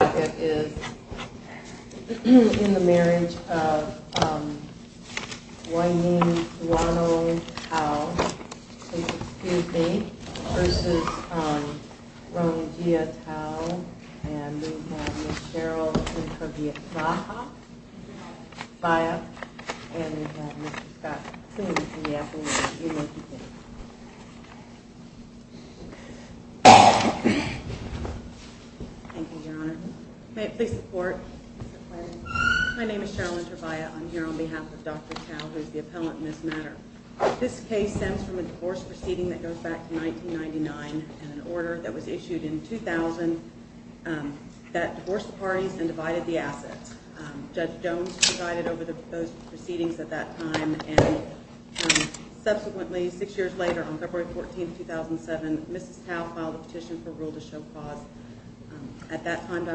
is in the marriage of Guanyin Duano Tao versus Rongjia Tao, and we have Ms. Cheryl Interview Viah, and we have Mr. Scott Coombs in the afternoon. Thank you, Your Honor. May it please the Court. My name is Cheryl Interview. I'm here on behalf of Dr. Tao, who is the appellant in this matter. This case stems from a divorce proceeding that goes back to 1999 and an order that was issued in 2000 that divorced the parties and divided the assets. Judge Jones presided over those proceedings at that time, and subsequently, six years later, on February 14, 2007, Mrs. Tao filed a petition for rule to show cause. At that time,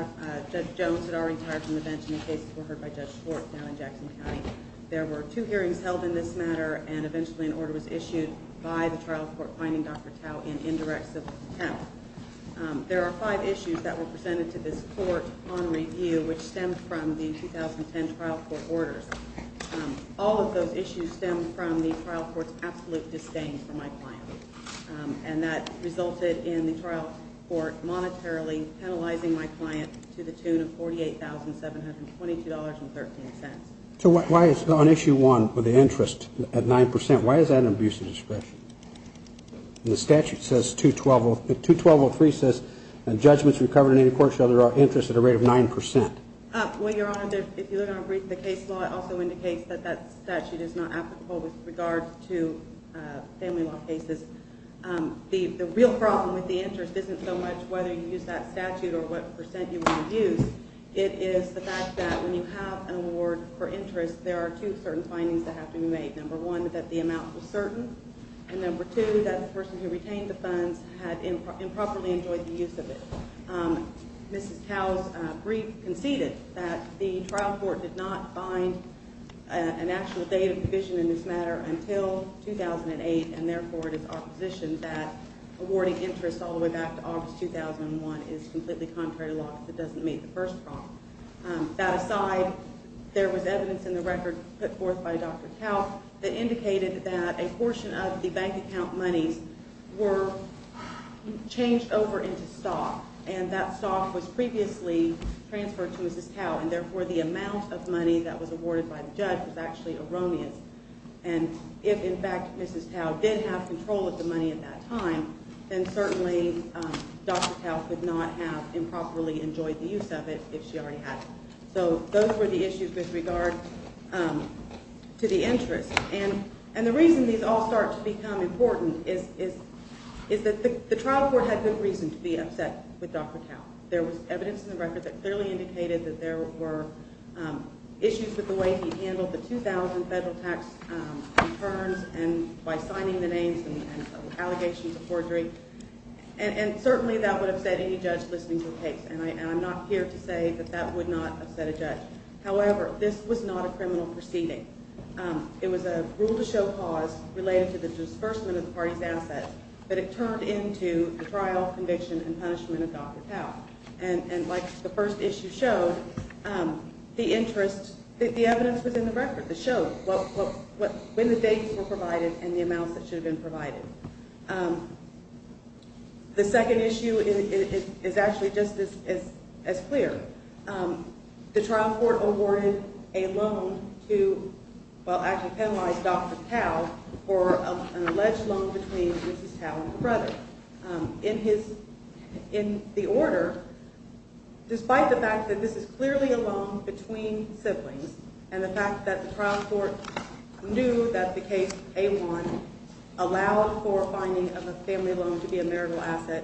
Judge Jones had already retired from the bench, and the cases were heard by Judge Schwartz down in Jackson County. There were two hearings held in this matter, and eventually an order was issued by the trial court finding Dr. Tao in indirect civil contempt. There are five issues that were presented to this court on review, which stemmed from the 2010 trial court orders. All of those issues stemmed from the trial court's absolute disdain for my client, and that resulted in the trial court monetarily penalizing my client to the tune of $48,722.13. So why is it on Issue 1 with the interest at 9 percent, why is that an abusive discretion? The statute says 212.03 says judgments recovered in any court shall derive interest at a rate of 9 percent. Well, Your Honor, if you look on the brief, the case law also indicates that that statute is not applicable with regard to family law cases. The real problem with the interest isn't so much whether you use that statute or what percent you want to use. It is the fact that when you have an award for interest, there are two certain findings that have to be made. Number one, that the amount was certain, and number two, that the person who retained the funds had improperly enjoyed the use of it. Mrs. Tao's brief conceded that the trial court did not find an actual date of provision in this matter until 2008, and therefore it is our position that awarding interest all the way back to August 2001 is completely contrary to law if it doesn't meet the first prong. That aside, there was evidence in the record put forth by Dr. Tao that indicated that a portion of the bank account monies were changed over into stock, and that stock was previously transferred to Mrs. Tao, and therefore the amount of money that was awarded by the judge was actually erroneous. And if, in fact, Mrs. Tao did have control of the money at that time, then certainly Dr. Tao could not have improperly enjoyed the use of it if she already had it. So those were the issues with regard to the interest, and the reason these all start to become important is that the trial court had good reason to be upset with Dr. Tao. There was evidence in the record that clearly indicated that there were issues with the way he handled the $2,000 federal tax returns by signing the names and allegations of forgery, and certainly that would upset any judge listening to the case, and I'm not here to say that that would not upset a judge. However, this was not a criminal proceeding. It was a rule to show cause related to the disbursement of the party's assets, but it turned into the trial, conviction, and punishment of Dr. Tao. And like the first issue showed, the interest, the evidence was in the record that showed when the dates were provided and the amounts that should have been provided. The second issue is actually just as clear. The trial court awarded a loan to, well, actually penalized Dr. Tao for an alleged loan between Mrs. Tao and her brother. In the order, despite the fact that this is clearly a loan between siblings, and the fact that the trial court knew that the case A1 allowed for a finding of a family loan to be a marital asset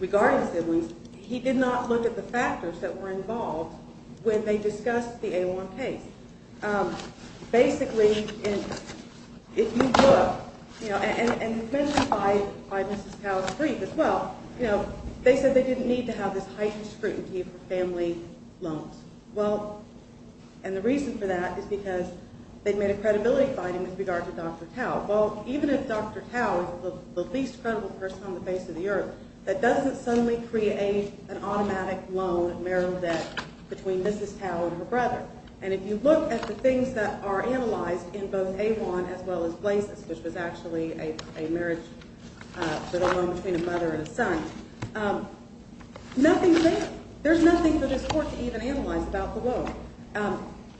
regarding siblings, he did not look at the factors that were involved when they discussed the A1 case. Basically, if you look, and it's mentioned by Mrs. Tao's brief as well, they said they didn't need to have this heightened scrutiny for family loans. Well, and the reason for that is because they made a credibility finding with regard to Dr. Tao. Well, even if Dr. Tao is the least credible person on the face of the earth, that doesn't suddenly create an automatic loan marital debt between Mrs. Tao and her brother. And if you look at the things that are analyzed in both A1 as well as Blazes, which was actually a marriage loan between a mother and a son, there's nothing for this court to even analyze about the loan.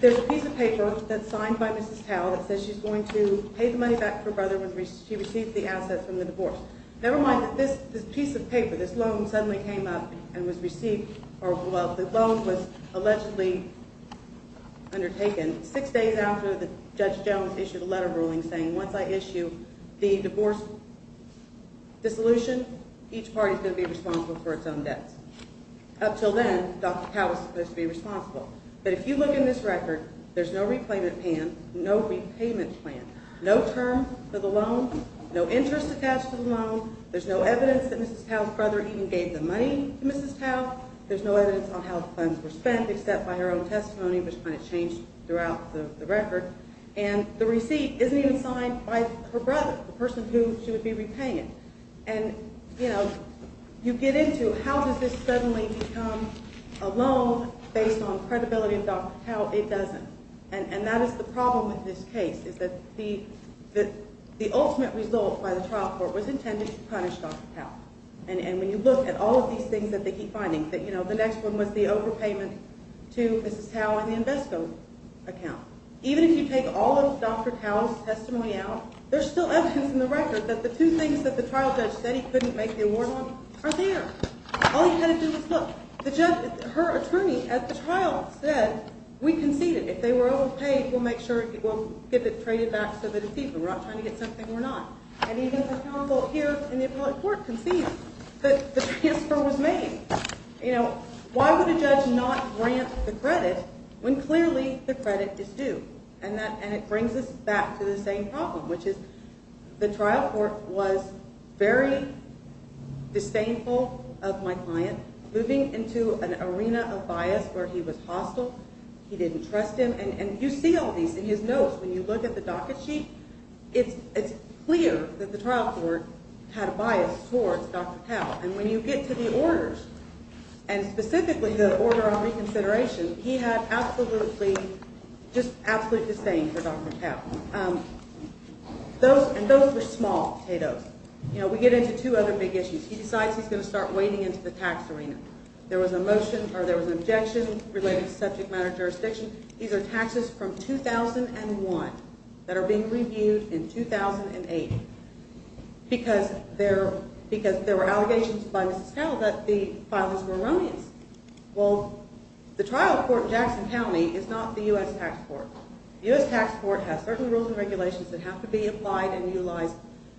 There's a piece of paper that's signed by Mrs. Tao that says she's going to pay the money back to her brother when she receives the assets from the divorce. Never mind that this piece of paper, this loan suddenly came up and was received, or well, the loan was allegedly undertaken six days after Judge Jones issued a letter ruling saying, once I issue the divorce dissolution, each party's going to be responsible for its own debts. Up till then, Dr. Tao was supposed to be responsible. But if you look in this record, there's no repayment plan, no term for the loan, no interest attached to the loan. There's no evidence that Mrs. Tao's brother even gave the money to Mrs. Tao. There's no evidence on how the funds were spent except by her own testimony, which kind of changed throughout the record. And the receipt isn't even signed by her brother, the person who she would be repaying it. And, you know, you get into how does this suddenly become a loan based on credibility of Dr. Tao? It doesn't. And that is the problem with this case, is that the ultimate result by the trial court was intended to punish Dr. Tao. And when you look at all of these things that they keep finding, that, you know, the next one was the overpayment to Mrs. Tao in the Invesco account. Even if you take all of Dr. Tao's testimony out, there's still evidence in the record that the two things that the trial judge said he couldn't make the award on are there. All he had to do was look. The judge, her attorney at the trial said, we conceded. If they were overpaid, we'll make sure we'll get it traded back so that it's even. We're not trying to get something we're not. And even the counsel here in the appellate court conceded that the transfer was made. Why would a judge not grant the credit when clearly the credit is due? And it brings us back to the same problem, which is the trial court was very disdainful of my client moving into an arena of bias where he was hostile. He didn't trust him. And you see all these in his notes. When you look at the docket sheet, it's clear that the trial court had a bias towards Dr. Tao. And when you get to the orders, and specifically the order on reconsideration, he had absolutely, just absolute disdain for Dr. Tao. And those were small potatoes. You know, we get into two other big issues. He decides he's going to start wading into the tax arena. There was a motion or there was an objection related to subject matter jurisdiction. These are taxes from 2001 that are being reviewed in 2008 because there were allegations by Mrs. Tao that the filings were erroneous. Well, the trial court in Jackson County is not the U.S. tax court. The U.S. tax court has certain rules and regulations that have to be applied and utilized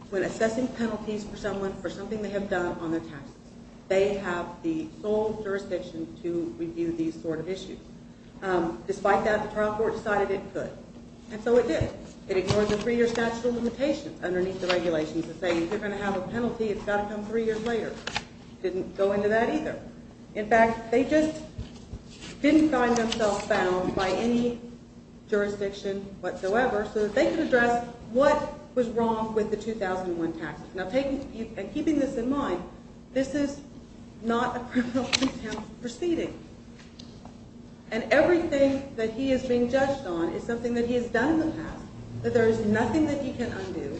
when assessing penalties for someone for something they have done on their taxes. They have the sole jurisdiction to review these sort of issues. Despite that, the trial court decided it could. And so it did. It ignored the three-year statute of limitations underneath the regulations that say if you're going to have a penalty, it's got to come three years later. It didn't go into that either. In fact, they just didn't find themselves bound by any jurisdiction whatsoever so that they could address what was wrong with the 2001 taxes. Now, keeping this in mind, this is not a criminal contempt proceeding. And everything that he is being judged on is something that he has done in the past, that there is nothing that he can undo,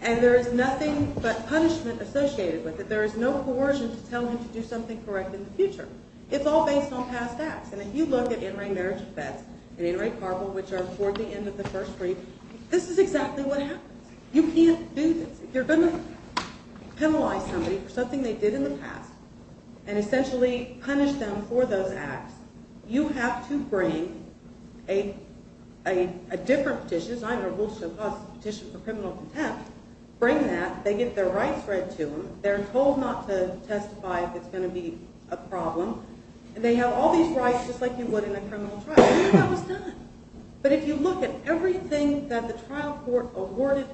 and there is nothing but punishment associated with it. There is no coercion to tell him to do something correct in the future. It's all based on past acts. And if you look at in-ring marriage defense and in-ring carpool, which are toward the end of the first brief, this is exactly what happens. You can't do this. If you're going to penalize somebody for something they did in the past and essentially punish them for those acts, you have to bring a different petition. It's either a will to show cause petition for criminal contempt. Bring that. They get their rights read to them. They're told not to testify if it's going to be a problem. And they have all these rights just like you would in a criminal trial. And that was done. But if you look at everything that the trial court awarded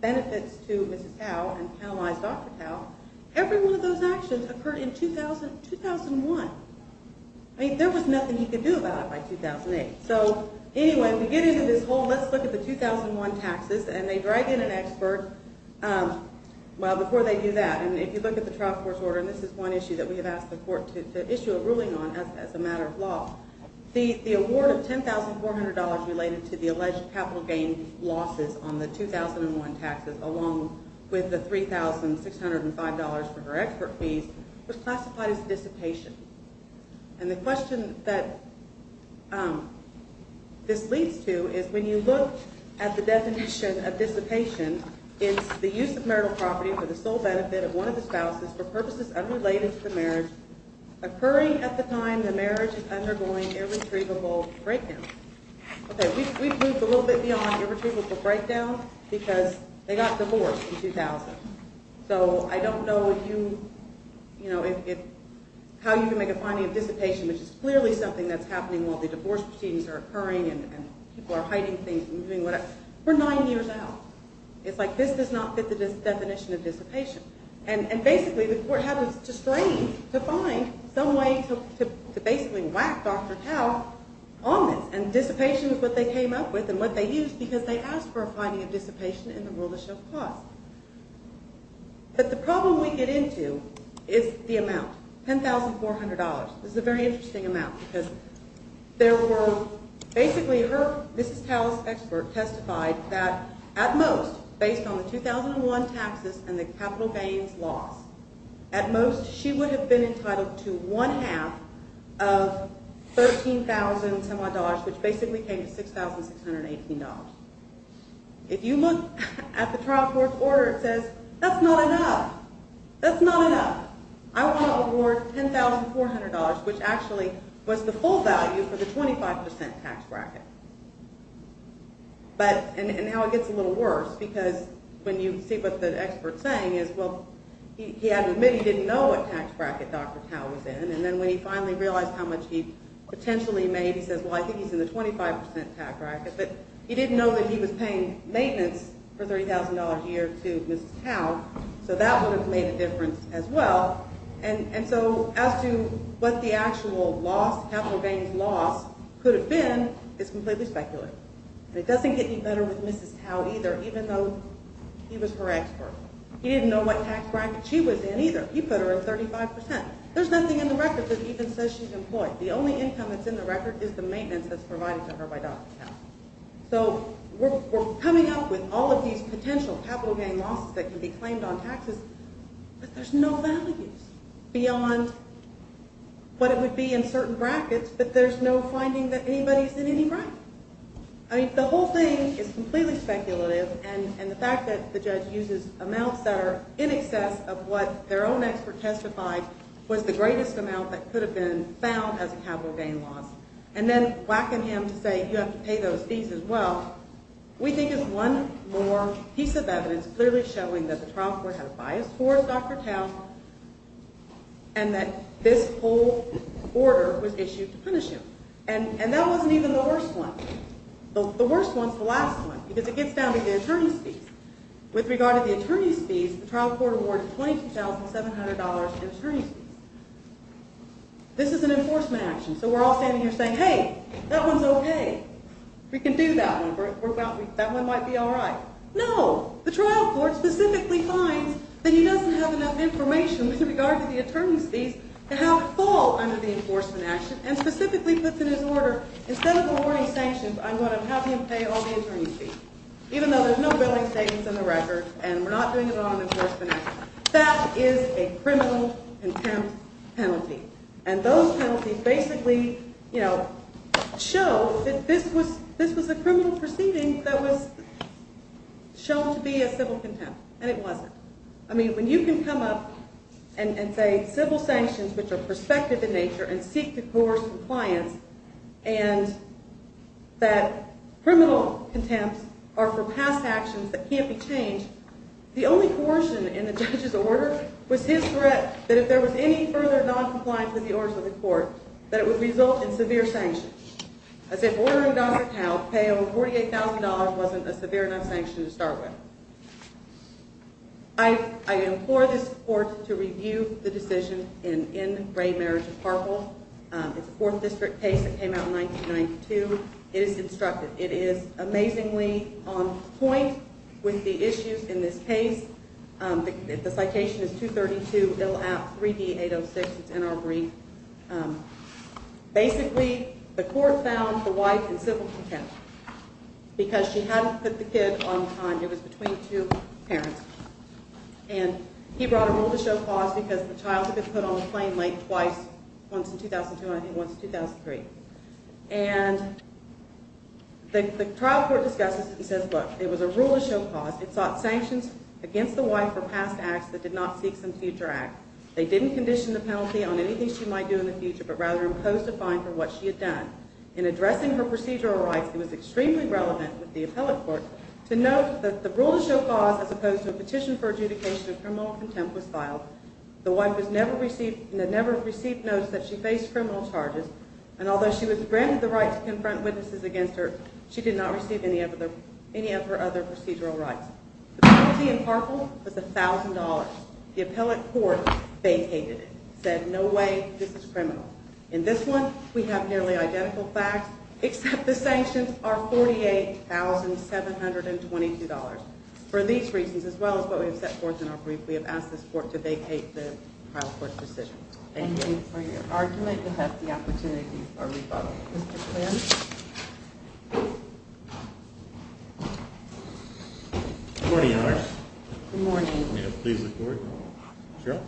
benefits to Mrs. Tao and penalized Dr. Tao, every one of those actions occurred in 2001. I mean, there was nothing he could do about it by 2008. So anyway, we get into this whole let's look at the 2001 taxes, and they drag in an expert. Well, before they do that, and if you look at the trial court's order, and this is one issue that we have asked the court to issue a ruling on as a matter of law. The award of $10,400 related to the alleged capital gain losses on the 2001 taxes along with the $3,605 for her expert fees was classified as dissipation. And the question that this leads to is when you look at the definition of dissipation, it's the use of marital property for the sole benefit of one of the spouses for purposes unrelated to the marriage, occurring at the time the marriage is undergoing irretrievable breakdown. Okay, we've moved a little bit beyond irretrievable breakdown because they got divorced in 2000. So I don't know if you, you know, how you can make a finding of dissipation, which is clearly something that's happening while the divorce proceedings are occurring, and people are hiding things and doing whatever, we're nine years out. It's like this does not fit the definition of dissipation. And basically the court had to strain to find some way to basically whack Dr. Tao on this. And dissipation is what they came up with and what they used because they asked for a finding of dissipation in the rule of the show of cause. But the problem we get into is the amount, $10,400. This is a very interesting amount because there were basically her, Mrs. Tao's expert testified that at most based on the 2001 taxes and the capital gains loss, at most she would have been entitled to one half of $13,000, which basically came to $6,618. If you look at the trial court's order, it says that's not enough. That's not enough. I want to award $10,400, which actually was the full value for the 25% tax bracket. But, and now it gets a little worse because when you see what the expert's saying is, well, he had to admit he didn't know what tax bracket Dr. Tao was in. And then when he finally realized how much he potentially made, he says, well, I think he's in the 25% tax bracket. But he didn't know that he was paying maintenance for $30,000 a year to Mrs. Tao. So that would have made a difference as well. And so as to what the actual loss, capital gains loss could have been is completely speculative. And it doesn't get any better with Mrs. Tao either, even though he was her expert. He didn't know what tax bracket she was in either. He put her at 35%. There's nothing in the record that even says she's employed. The only income that's in the record is the maintenance that's provided to her by Dr. Tao. So we're coming up with all of these potential capital gain losses that can be claimed on taxes. But there's no values beyond what it would be in certain brackets. But there's no finding that anybody's in any bracket. I mean, the whole thing is completely speculative. And the fact that the judge uses amounts that are in excess of what their own expert testified was the greatest amount that could have been found as a capital gain loss. And then whacking him to say you have to pay those fees as well, we think is one more piece of evidence clearly showing that the trial court had a bias towards Dr. Tao and that this whole order was issued to punish him. And that wasn't even the worst one. The worst one's the last one because it gets down to the attorney's fees. With regard to the attorney's fees, the trial court awarded $22,700 in attorney's fees. This is an enforcement action. So we're all standing here saying, hey, that one's okay. We can do that one. That one might be all right. No, the trial court specifically finds that he doesn't have enough information with regard to the attorney's fees to have it fall under the enforcement action and specifically puts in his order, instead of awarding sanctions, I'm going to have him pay all the attorney's fees, even though there's no billing savings in the record and we're not doing it on an enforcement action. That is a criminal contempt penalty. And those penalties basically show that this was a criminal proceeding that was shown to be a civil contempt, and it wasn't. I mean, when you can come up and say civil sanctions, which are prospective in nature, and seek to coerce compliance, and that criminal contempts are for past actions that can't be changed, the only coercion in the judge's order was his threat that if there was any further noncompliance with the orders of the court, that it would result in severe sanctions. As if ordering a doctor to pay over $48,000 wasn't a severe enough sanction to start with. I implore this court to review the decision in Ray Marriage of Parkville. It's a 4th District case that came out in 1992. It is instructive. It is amazingly on point with the issues in this case. The citation is 232 Ill App 3D806. It's in our brief. Basically, the court found the wife in civil contempt because she hadn't put the kid on time. It was between two parents. And he brought a rule to show cause because the child had been put on the plane late twice, once in 2002 and I think once in 2003. And the trial court discusses it and says, look, it was a rule to show cause. It sought sanctions against the wife for past acts that did not seek some future act. They didn't condition the penalty on anything she might do in the future but rather imposed a fine for what she had done. In addressing her procedural rights, it was extremely relevant with the appellate court to note that the rule to show cause, as opposed to a petition for adjudication of criminal contempt, was filed. The wife had never received notes that she faced criminal charges. And although she was granted the right to confront witnesses against her, she did not receive any of her other procedural rights. The penalty in Parkville was $1,000. The appellate court vacated it, said no way, this is criminal. In this one, we have nearly identical facts except the sanctions are $48,722. For these reasons, as well as what we have set forth in our brief, we have asked this court to vacate the trial court decision. Thank you for your argument and that's the opportunity for rebuttal. Mr. Quinn? Good morning, Your Honor. Good morning. May I please look forward? Sure.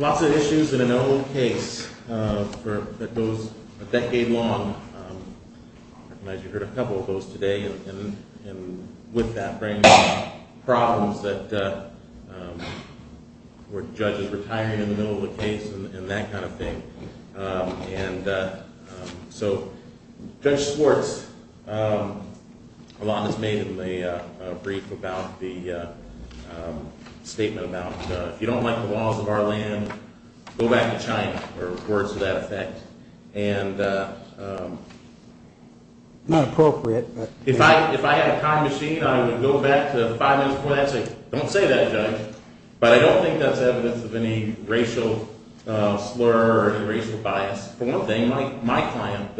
Lots of issues in an old case that goes a decade long. I recognize you heard a couple of those today. And with that brings problems that were judges retiring in the middle of the case and that kind of thing. And so Judge Schwartz, a lot was made in the brief about the statement about if you don't like the laws of our land, go back to China or words to that effect. And if I had a time machine, I would go back to the five minutes before that and say, don't say that, Judge. But I don't think that's evidence of any racial slur or any racial bias. For one thing, my client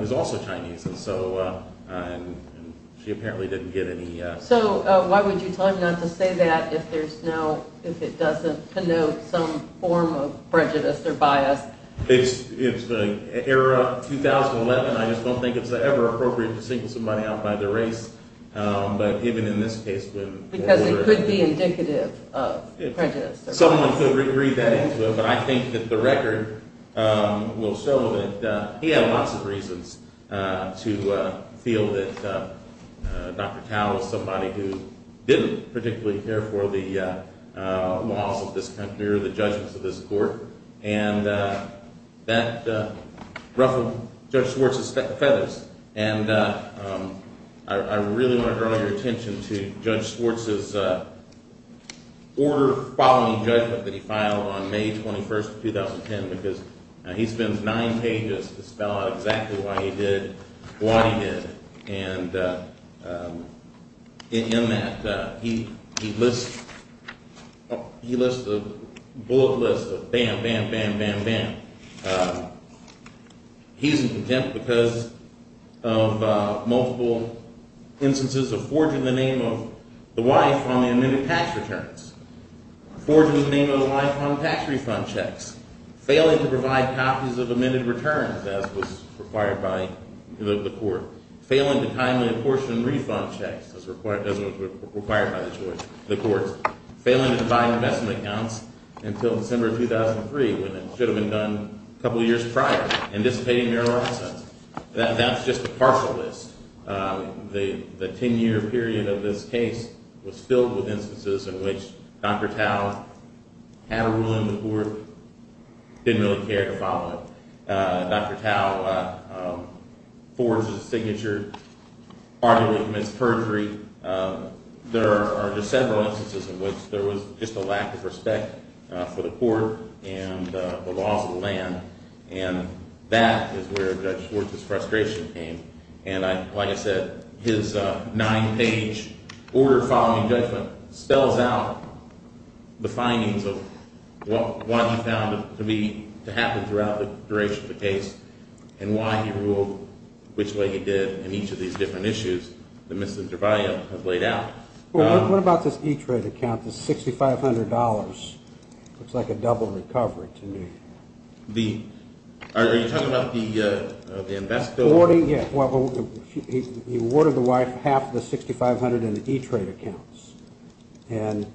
is also Chinese and so she apparently didn't get any – So why would you tell him not to say that if there's no – if it doesn't connote some form of prejudice or bias? It's the era of 2011. I just don't think it's ever appropriate to single somebody out by their race. But even in this case, when – Because it could be indicative of prejudice. Someone could read that into it, but I think that the record will show that he had lots of reasons to feel that Dr. Tao is somebody who didn't particularly care for the laws of this country or the judgments of this court. And that ruffled Judge Schwartz's feathers. And I really want to draw your attention to Judge Schwartz's order following judgment that he filed on May 21, 2010, because he spends nine pages to spell out exactly why he did what he did. And in that, he lists the bullet list of bam, bam, bam, bam, bam. He's in contempt because of multiple instances of forging the name of the wife on the amended tax returns, forging the name of the wife on tax refund checks, failing to provide copies of amended returns as was required by the court, when it should have been done a couple of years prior, anticipating marital assets. That's just a partial list. The 10-year period of this case was filled with instances in which Dr. Tao had a rule in the court, didn't really care to follow it. Dr. Tao forges a signature, arguably commits perjury. There are just several instances in which there was just a lack of respect for the court and the laws of the land. And that is where Judge Schwartz's frustration came. And like I said, his nine-page order following judgment spells out the findings of what he found to be to happen throughout the duration of the case and why he ruled which way he did in each of these different issues that Mr. Trevayo has laid out. Well, what about this E-Trade account, the $6,500? Looks like a double recovery to me. Are you talking about the invest bill? Yeah. He awarded the wife half of the $6,500 in E-Trade accounts. And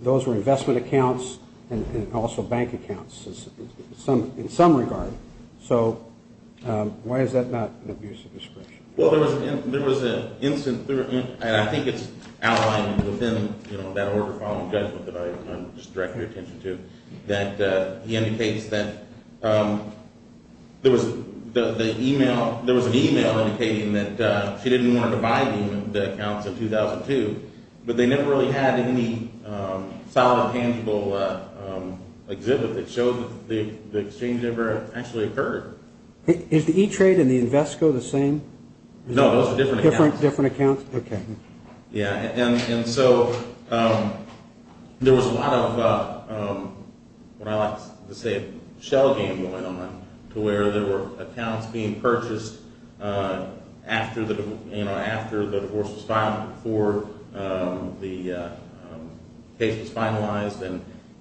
those were investment accounts and also bank accounts in some regard. So why is that not an abusive description? Well, there was an instance, and I think it's outlined within that order following judgment that I just directed your attention to, that he indicates that there was an e-mail indicating that she didn't want to buy the accounts in 2002, but they never really had any solid, tangible exhibit that showed that the exchange never actually occurred. Is the E-Trade and the Invesco the same? No, those are different accounts. Different accounts? Okay. And so there was a lot of, what I like to say, a shell game going on to where there were accounts being purchased after the divorce was filed, before the case was finalized.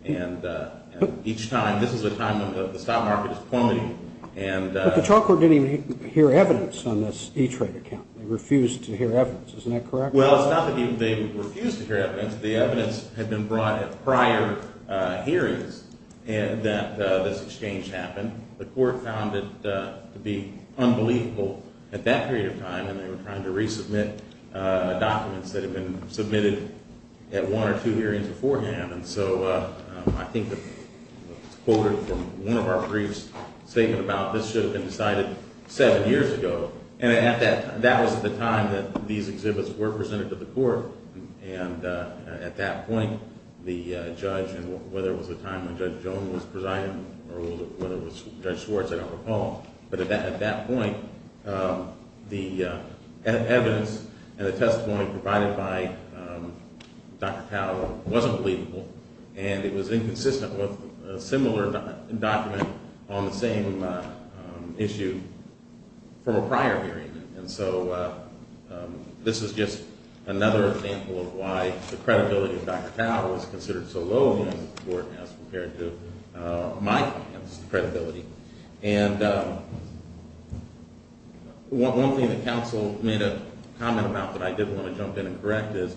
And each time, this is a time when the stock market is plummeting. But the trial court didn't even hear evidence on this E-Trade account. They refused to hear evidence. Isn't that correct? Well, it's not that they refused to hear evidence. The evidence had been brought at prior hearings that this exchange happened. The court found it to be unbelievable at that period of time, and they were trying to resubmit documents that had been submitted at one or two hearings beforehand. And so I think it was quoted from one of our briefs, a statement about this should have been decided seven years ago. And that was the time that these exhibits were presented to the court. And at that point, the judge, whether it was the time when Judge Jones was presiding or whether it was Judge Schwartz, I don't recall. But at that point, the evidence and the testimony provided by Dr. Powell wasn't believable. And it was inconsistent with a similar document on the same issue from a prior hearing. And so this is just another example of why the credibility of Dr. Powell is considered so low in this court as compared to my credibility. And one thing the counsel made a comment about that I didn't want to jump in and correct is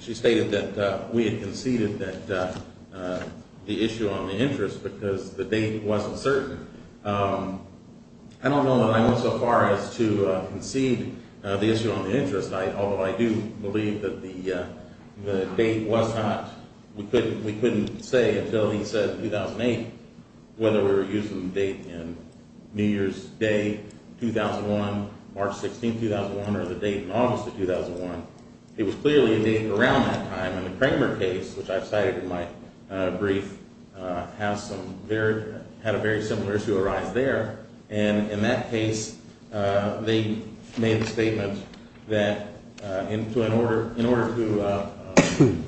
she stated that we had conceded that the issue on the interest because the date wasn't certain. I don't know that I went so far as to concede the issue on the interest. Although I do believe that the date was not – we couldn't say until he said 2008 whether we were using the date in New Year's Day 2001, March 16, 2001, or the date in August of 2001. It was clearly a date around that time. And the Kramer case, which I've cited in my brief, has some – had a very similar issue arise there. And in that case, they made the statement that in order to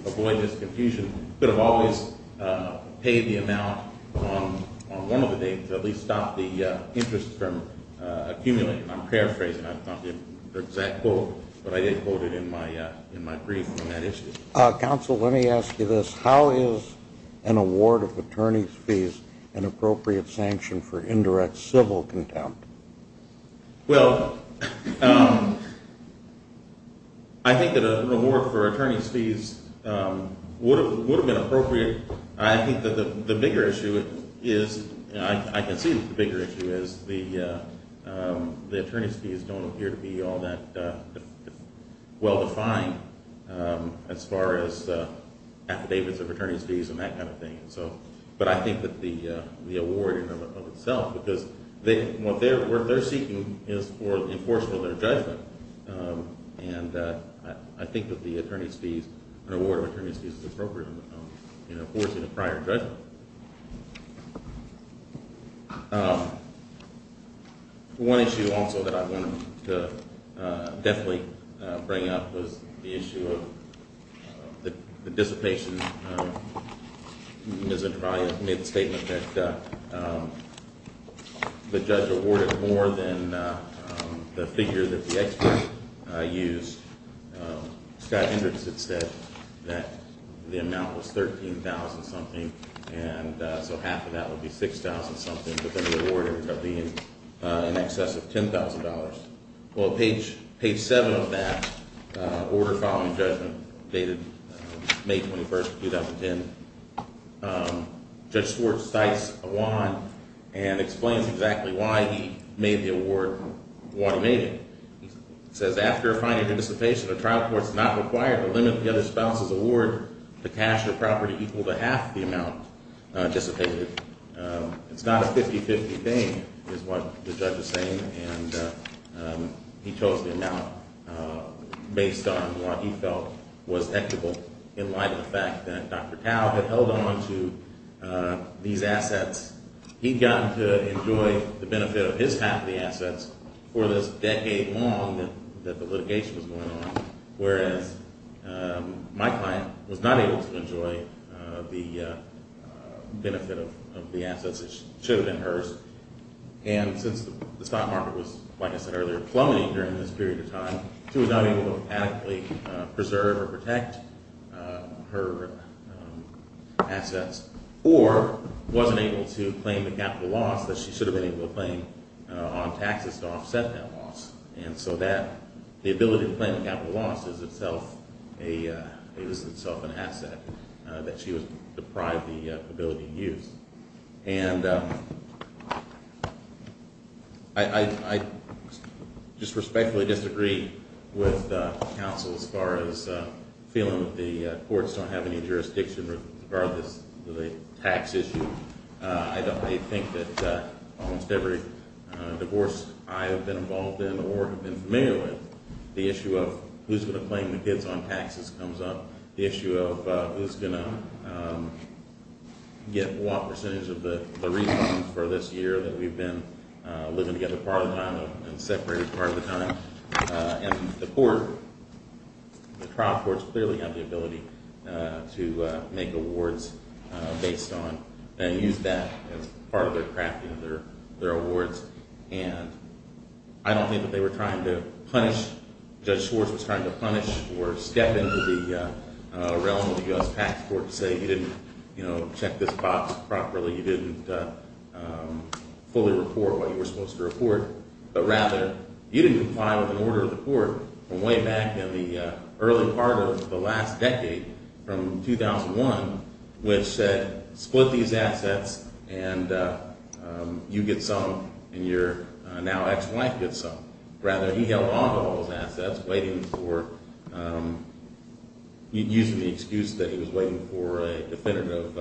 avoid this confusion, you could have always paid the amount on one of the dates to at least stop the interest from accumulating. I'm paraphrasing. That's not the exact quote, but I did quote it in my brief on that issue. Counsel, let me ask you this. How is an award of attorney's fees an appropriate sanction for indirect civil contempt? Well, I think that an award for attorney's fees would have been appropriate. I think that the bigger issue is – I concede that the bigger issue is the attorney's fees don't appear to be all that well-defined as far as affidavits of attorney's fees and that kind of thing. But I think that the award in and of itself – because what they're seeking is for enforcement of their judgment. And I think that the attorney's fees – an award of attorney's fees is appropriate in enforcing a prior judgment. One issue also that I wanted to definitely bring up was the issue of the dissipation. Ms. Entraia made the statement that the judge awarded more than the figure that the expert used. Scott Hendricks had said that the amount was $13,000-something, and so half of that would be $6,000-something, but then the award ended up being in excess of $10,000. Well, page 7 of that order following judgment, dated May 21, 2010, Judge Schwartz cites a law and explains exactly why he made the award the way he made it. He says, after a fine and a dissipation, a trial court is not required to limit the other spouse's award to cash or property equal to half the amount dissipated. It's not a 50-50 thing is what the judge is saying, and he chose the amount based on what he felt was equitable in light of the fact that Dr. Tao had held on to these assets. He'd gotten to enjoy the benefit of his half of the assets for this decade long that the litigation was going on, whereas my client was not able to enjoy the benefit of the assets that should have been hers. And since the stock market was, like I said earlier, plummeting during this period of time, she was not able to adequately preserve or protect her assets or wasn't able to claim the capital loss that she should have been able to claim on taxes to offset that loss. And so the ability to claim the capital loss is itself an asset that she was deprived the ability to use. And I just respectfully disagree with counsel as far as feeling that the courts don't have any jurisdiction to guard this tax issue. I think that almost every divorce I have been involved in or have been familiar with, the issue of who's going to claim the kids on taxes comes up. The issue of who's going to get what percentage of the refund for this year that we've been living together part of the time and separated part of the time. And the court, the trial courts clearly have the ability to make awards based on and use that as part of their crafting of their awards. And I don't think that they were trying to punish, Judge Schwartz was trying to punish or step into the realm of the U.S. Tax Court to say you didn't check this box properly, you didn't fully report what you were supposed to report. But rather, you didn't comply with an order of the court from way back in the early part of the last decade from 2001 which said split these assets and you get some and your now ex-wife gets some. Rather, he held on to all those assets waiting for, using the excuse that he was waiting for a definitive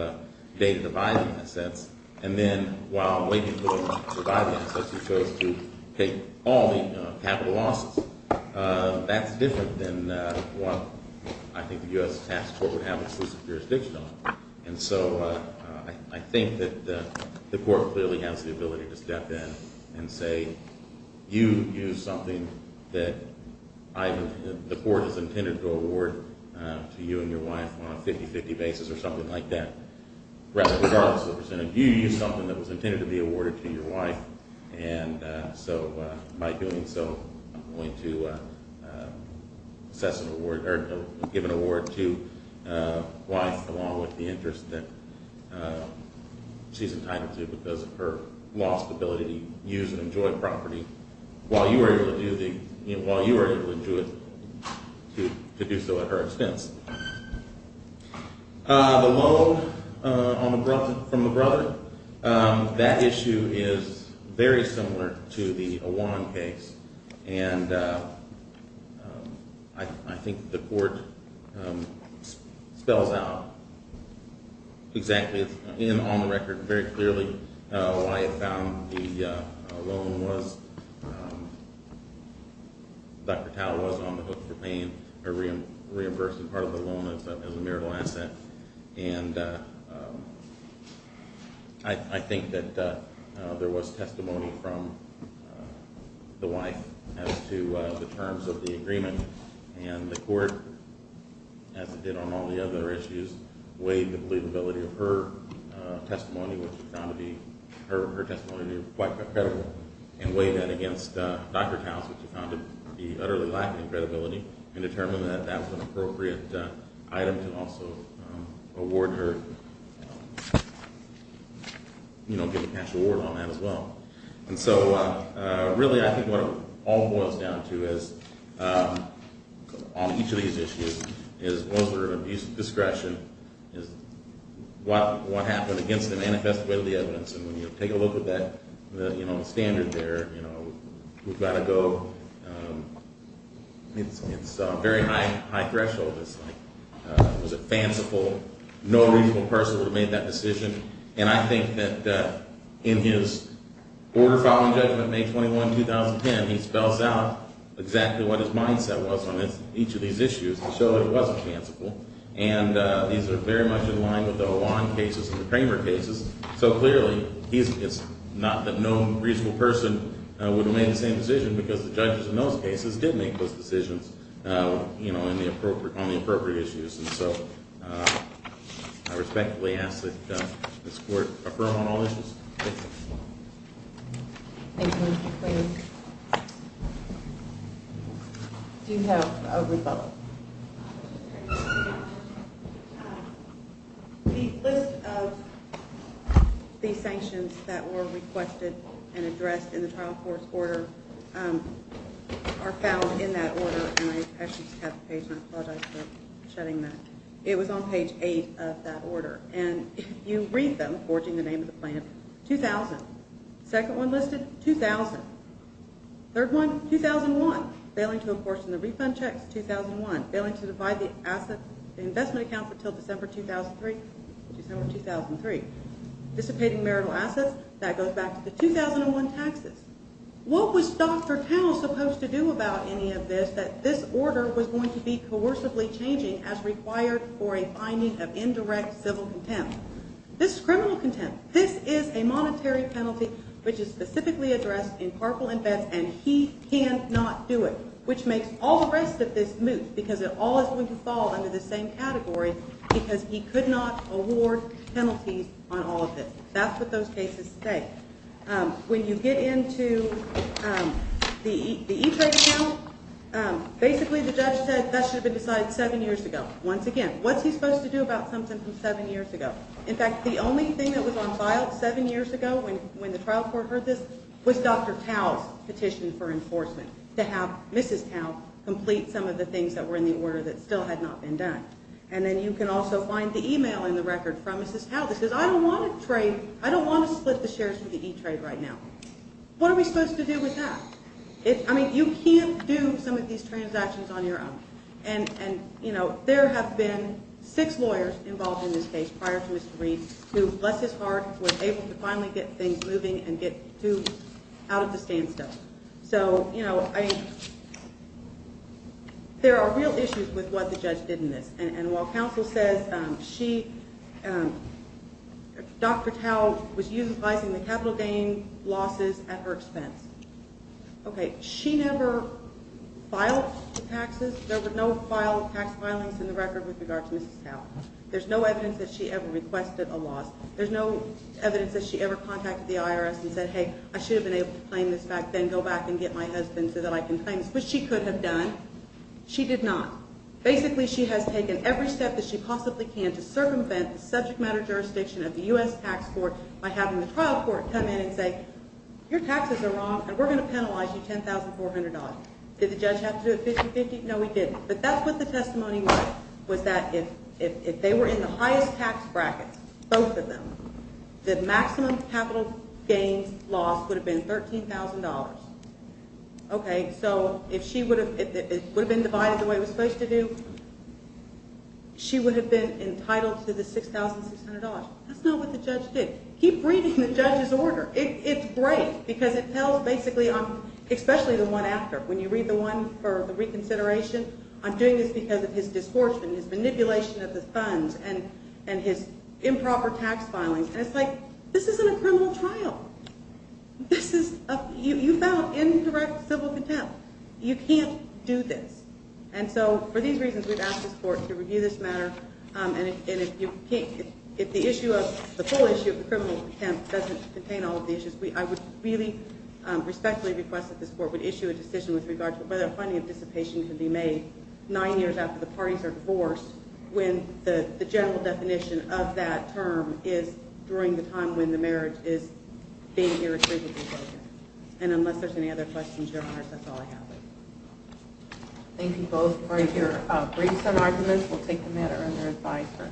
date to divide the assets. And then while waiting for him to divide the assets, he chose to take all the capital losses. That's different than what I think the U.S. Tax Court would have exclusive jurisdiction on. And so I think that the court clearly has the ability to step in and say you used something that the court has intended to award to you and your wife on a 50-50 basis or something like that. Rather, regardless of the percentage, you used something that was intended to be awarded to your wife and so by doing so I'm going to assess an award or give an award to a wife along with the interest that she's entitled to because of her lost ability to use and enjoy property while you were able to do it to do so at her expense. The loan from the brother, that issue is very similar to the Awan case. And I think the court spells out exactly and on the record very clearly why it found the loan was, Dr. Tao was on the hook for paying or reimbursing part of the loan as a marital asset. And I think that there was testimony from the wife as to the terms of the agreement and the court, as it did on all the other issues, weighed the believability of her testimony, which we found to be quite credible. And weighed that against Dr. Tao's, which we found to be utterly lacking in credibility and determined that that was an appropriate item to also award her, you know, get a cash award on that as well. And so really I think what it all boils down to is, on each of these issues, is what sort of abuse of discretion, is what happened against the manifest way of the evidence and when you take a look at that, you know, standard there, you know, we've got to go, it's a very high threshold. It's like, was it fanciful? No reasonable person would have made that decision. And I think that in his order following judgment, May 21, 2010, he spells out exactly what his mindset was on each of these issues to show that it wasn't fanciful. And these are very much in line with the Hwan cases and the Kramer cases. So clearly, it's not that no reasonable person would have made the same decision because the judges in those cases did make those decisions, you know, on the appropriate issues. And so I respectfully ask that this court affirm on all issues. Thank you. Second one listed, 2000. Third one, 2001. Failing to apportion the refund checks, 2001. Failing to divide the asset, the investment account until December 2003, December 2003. Dissipating marital assets, that goes back to the 2001 taxes. What was Dr. Towns supposed to do about any of this, that this order was going to be coercively changing as required for a finding of indirect civil contempt? This is criminal contempt. This is a monetary penalty which is specifically addressed in Parkland vets and he cannot do it, which makes all the rest of this moot because it all is going to fall under the same category because he could not award penalties on all of this. That's what those cases say. When you get into the e-trade account, basically the judge said that should have been decided seven years ago. Once again, what's he supposed to do about something from seven years ago? In fact, the only thing that was on file seven years ago when the trial court heard this was Dr. Towns petition for enforcement to have Mrs. Towns complete some of the things that were in the order that still had not been done. Then you can also find the email in the record from Mrs. Towns that says, I don't want to split the shares from the e-trade right now. What are we supposed to do with that? You can't do some of these transactions on your own. There have been six lawyers involved in this case prior to Mr. Reed who, bless his heart, were able to finally get things moving and get to out of the standstill. There are real issues with what the judge did in this. While counsel says Dr. Towns was utilizing the capital gain losses at her expense, she never filed the taxes. There were no tax filings in the record with regard to Mrs. Towns. There's no evidence that she ever requested a loss. There's no evidence that she ever contacted the IRS and said, hey, I should have been able to claim this back then, go back and get my husband so that I can claim this, which she could have done. She did not. Basically, she has taken every step that she possibly can to circumvent the subject matter jurisdiction of the U.S. tax court by having the trial court come in and say, your taxes are wrong and we're going to penalize you $10,400. Did the judge have to do it 50-50? No, he didn't. But that's what the testimony was, was that if they were in the highest tax brackets, both of them, the maximum capital gains loss would have been $13,000. Okay, so if it would have been divided the way it was supposed to do, she would have been entitled to the $6,600. That's not what the judge did. Keep reading the judge's order. It's great because it tells basically, especially the one after. When you read the one for the reconsideration, I'm doing this because of his discord and his manipulation of the funds and his improper tax filings. And it's like, this isn't a criminal trial. You found indirect civil contempt. You can't do this. And so for these reasons, we've asked this court to review this matter. And if the issue of, the full issue of the criminal contempt doesn't contain all of the issues, I would really respectfully request that this court would issue a decision with regard to whether a funding anticipation could be made nine years after the parties are divorced when the general definition of that term is during the time when the marriage is being irretrievably broken. And unless there's any other questions, your honor, that's all I have. Thank you both for your briefs and arguments. We'll take the matter under advisory.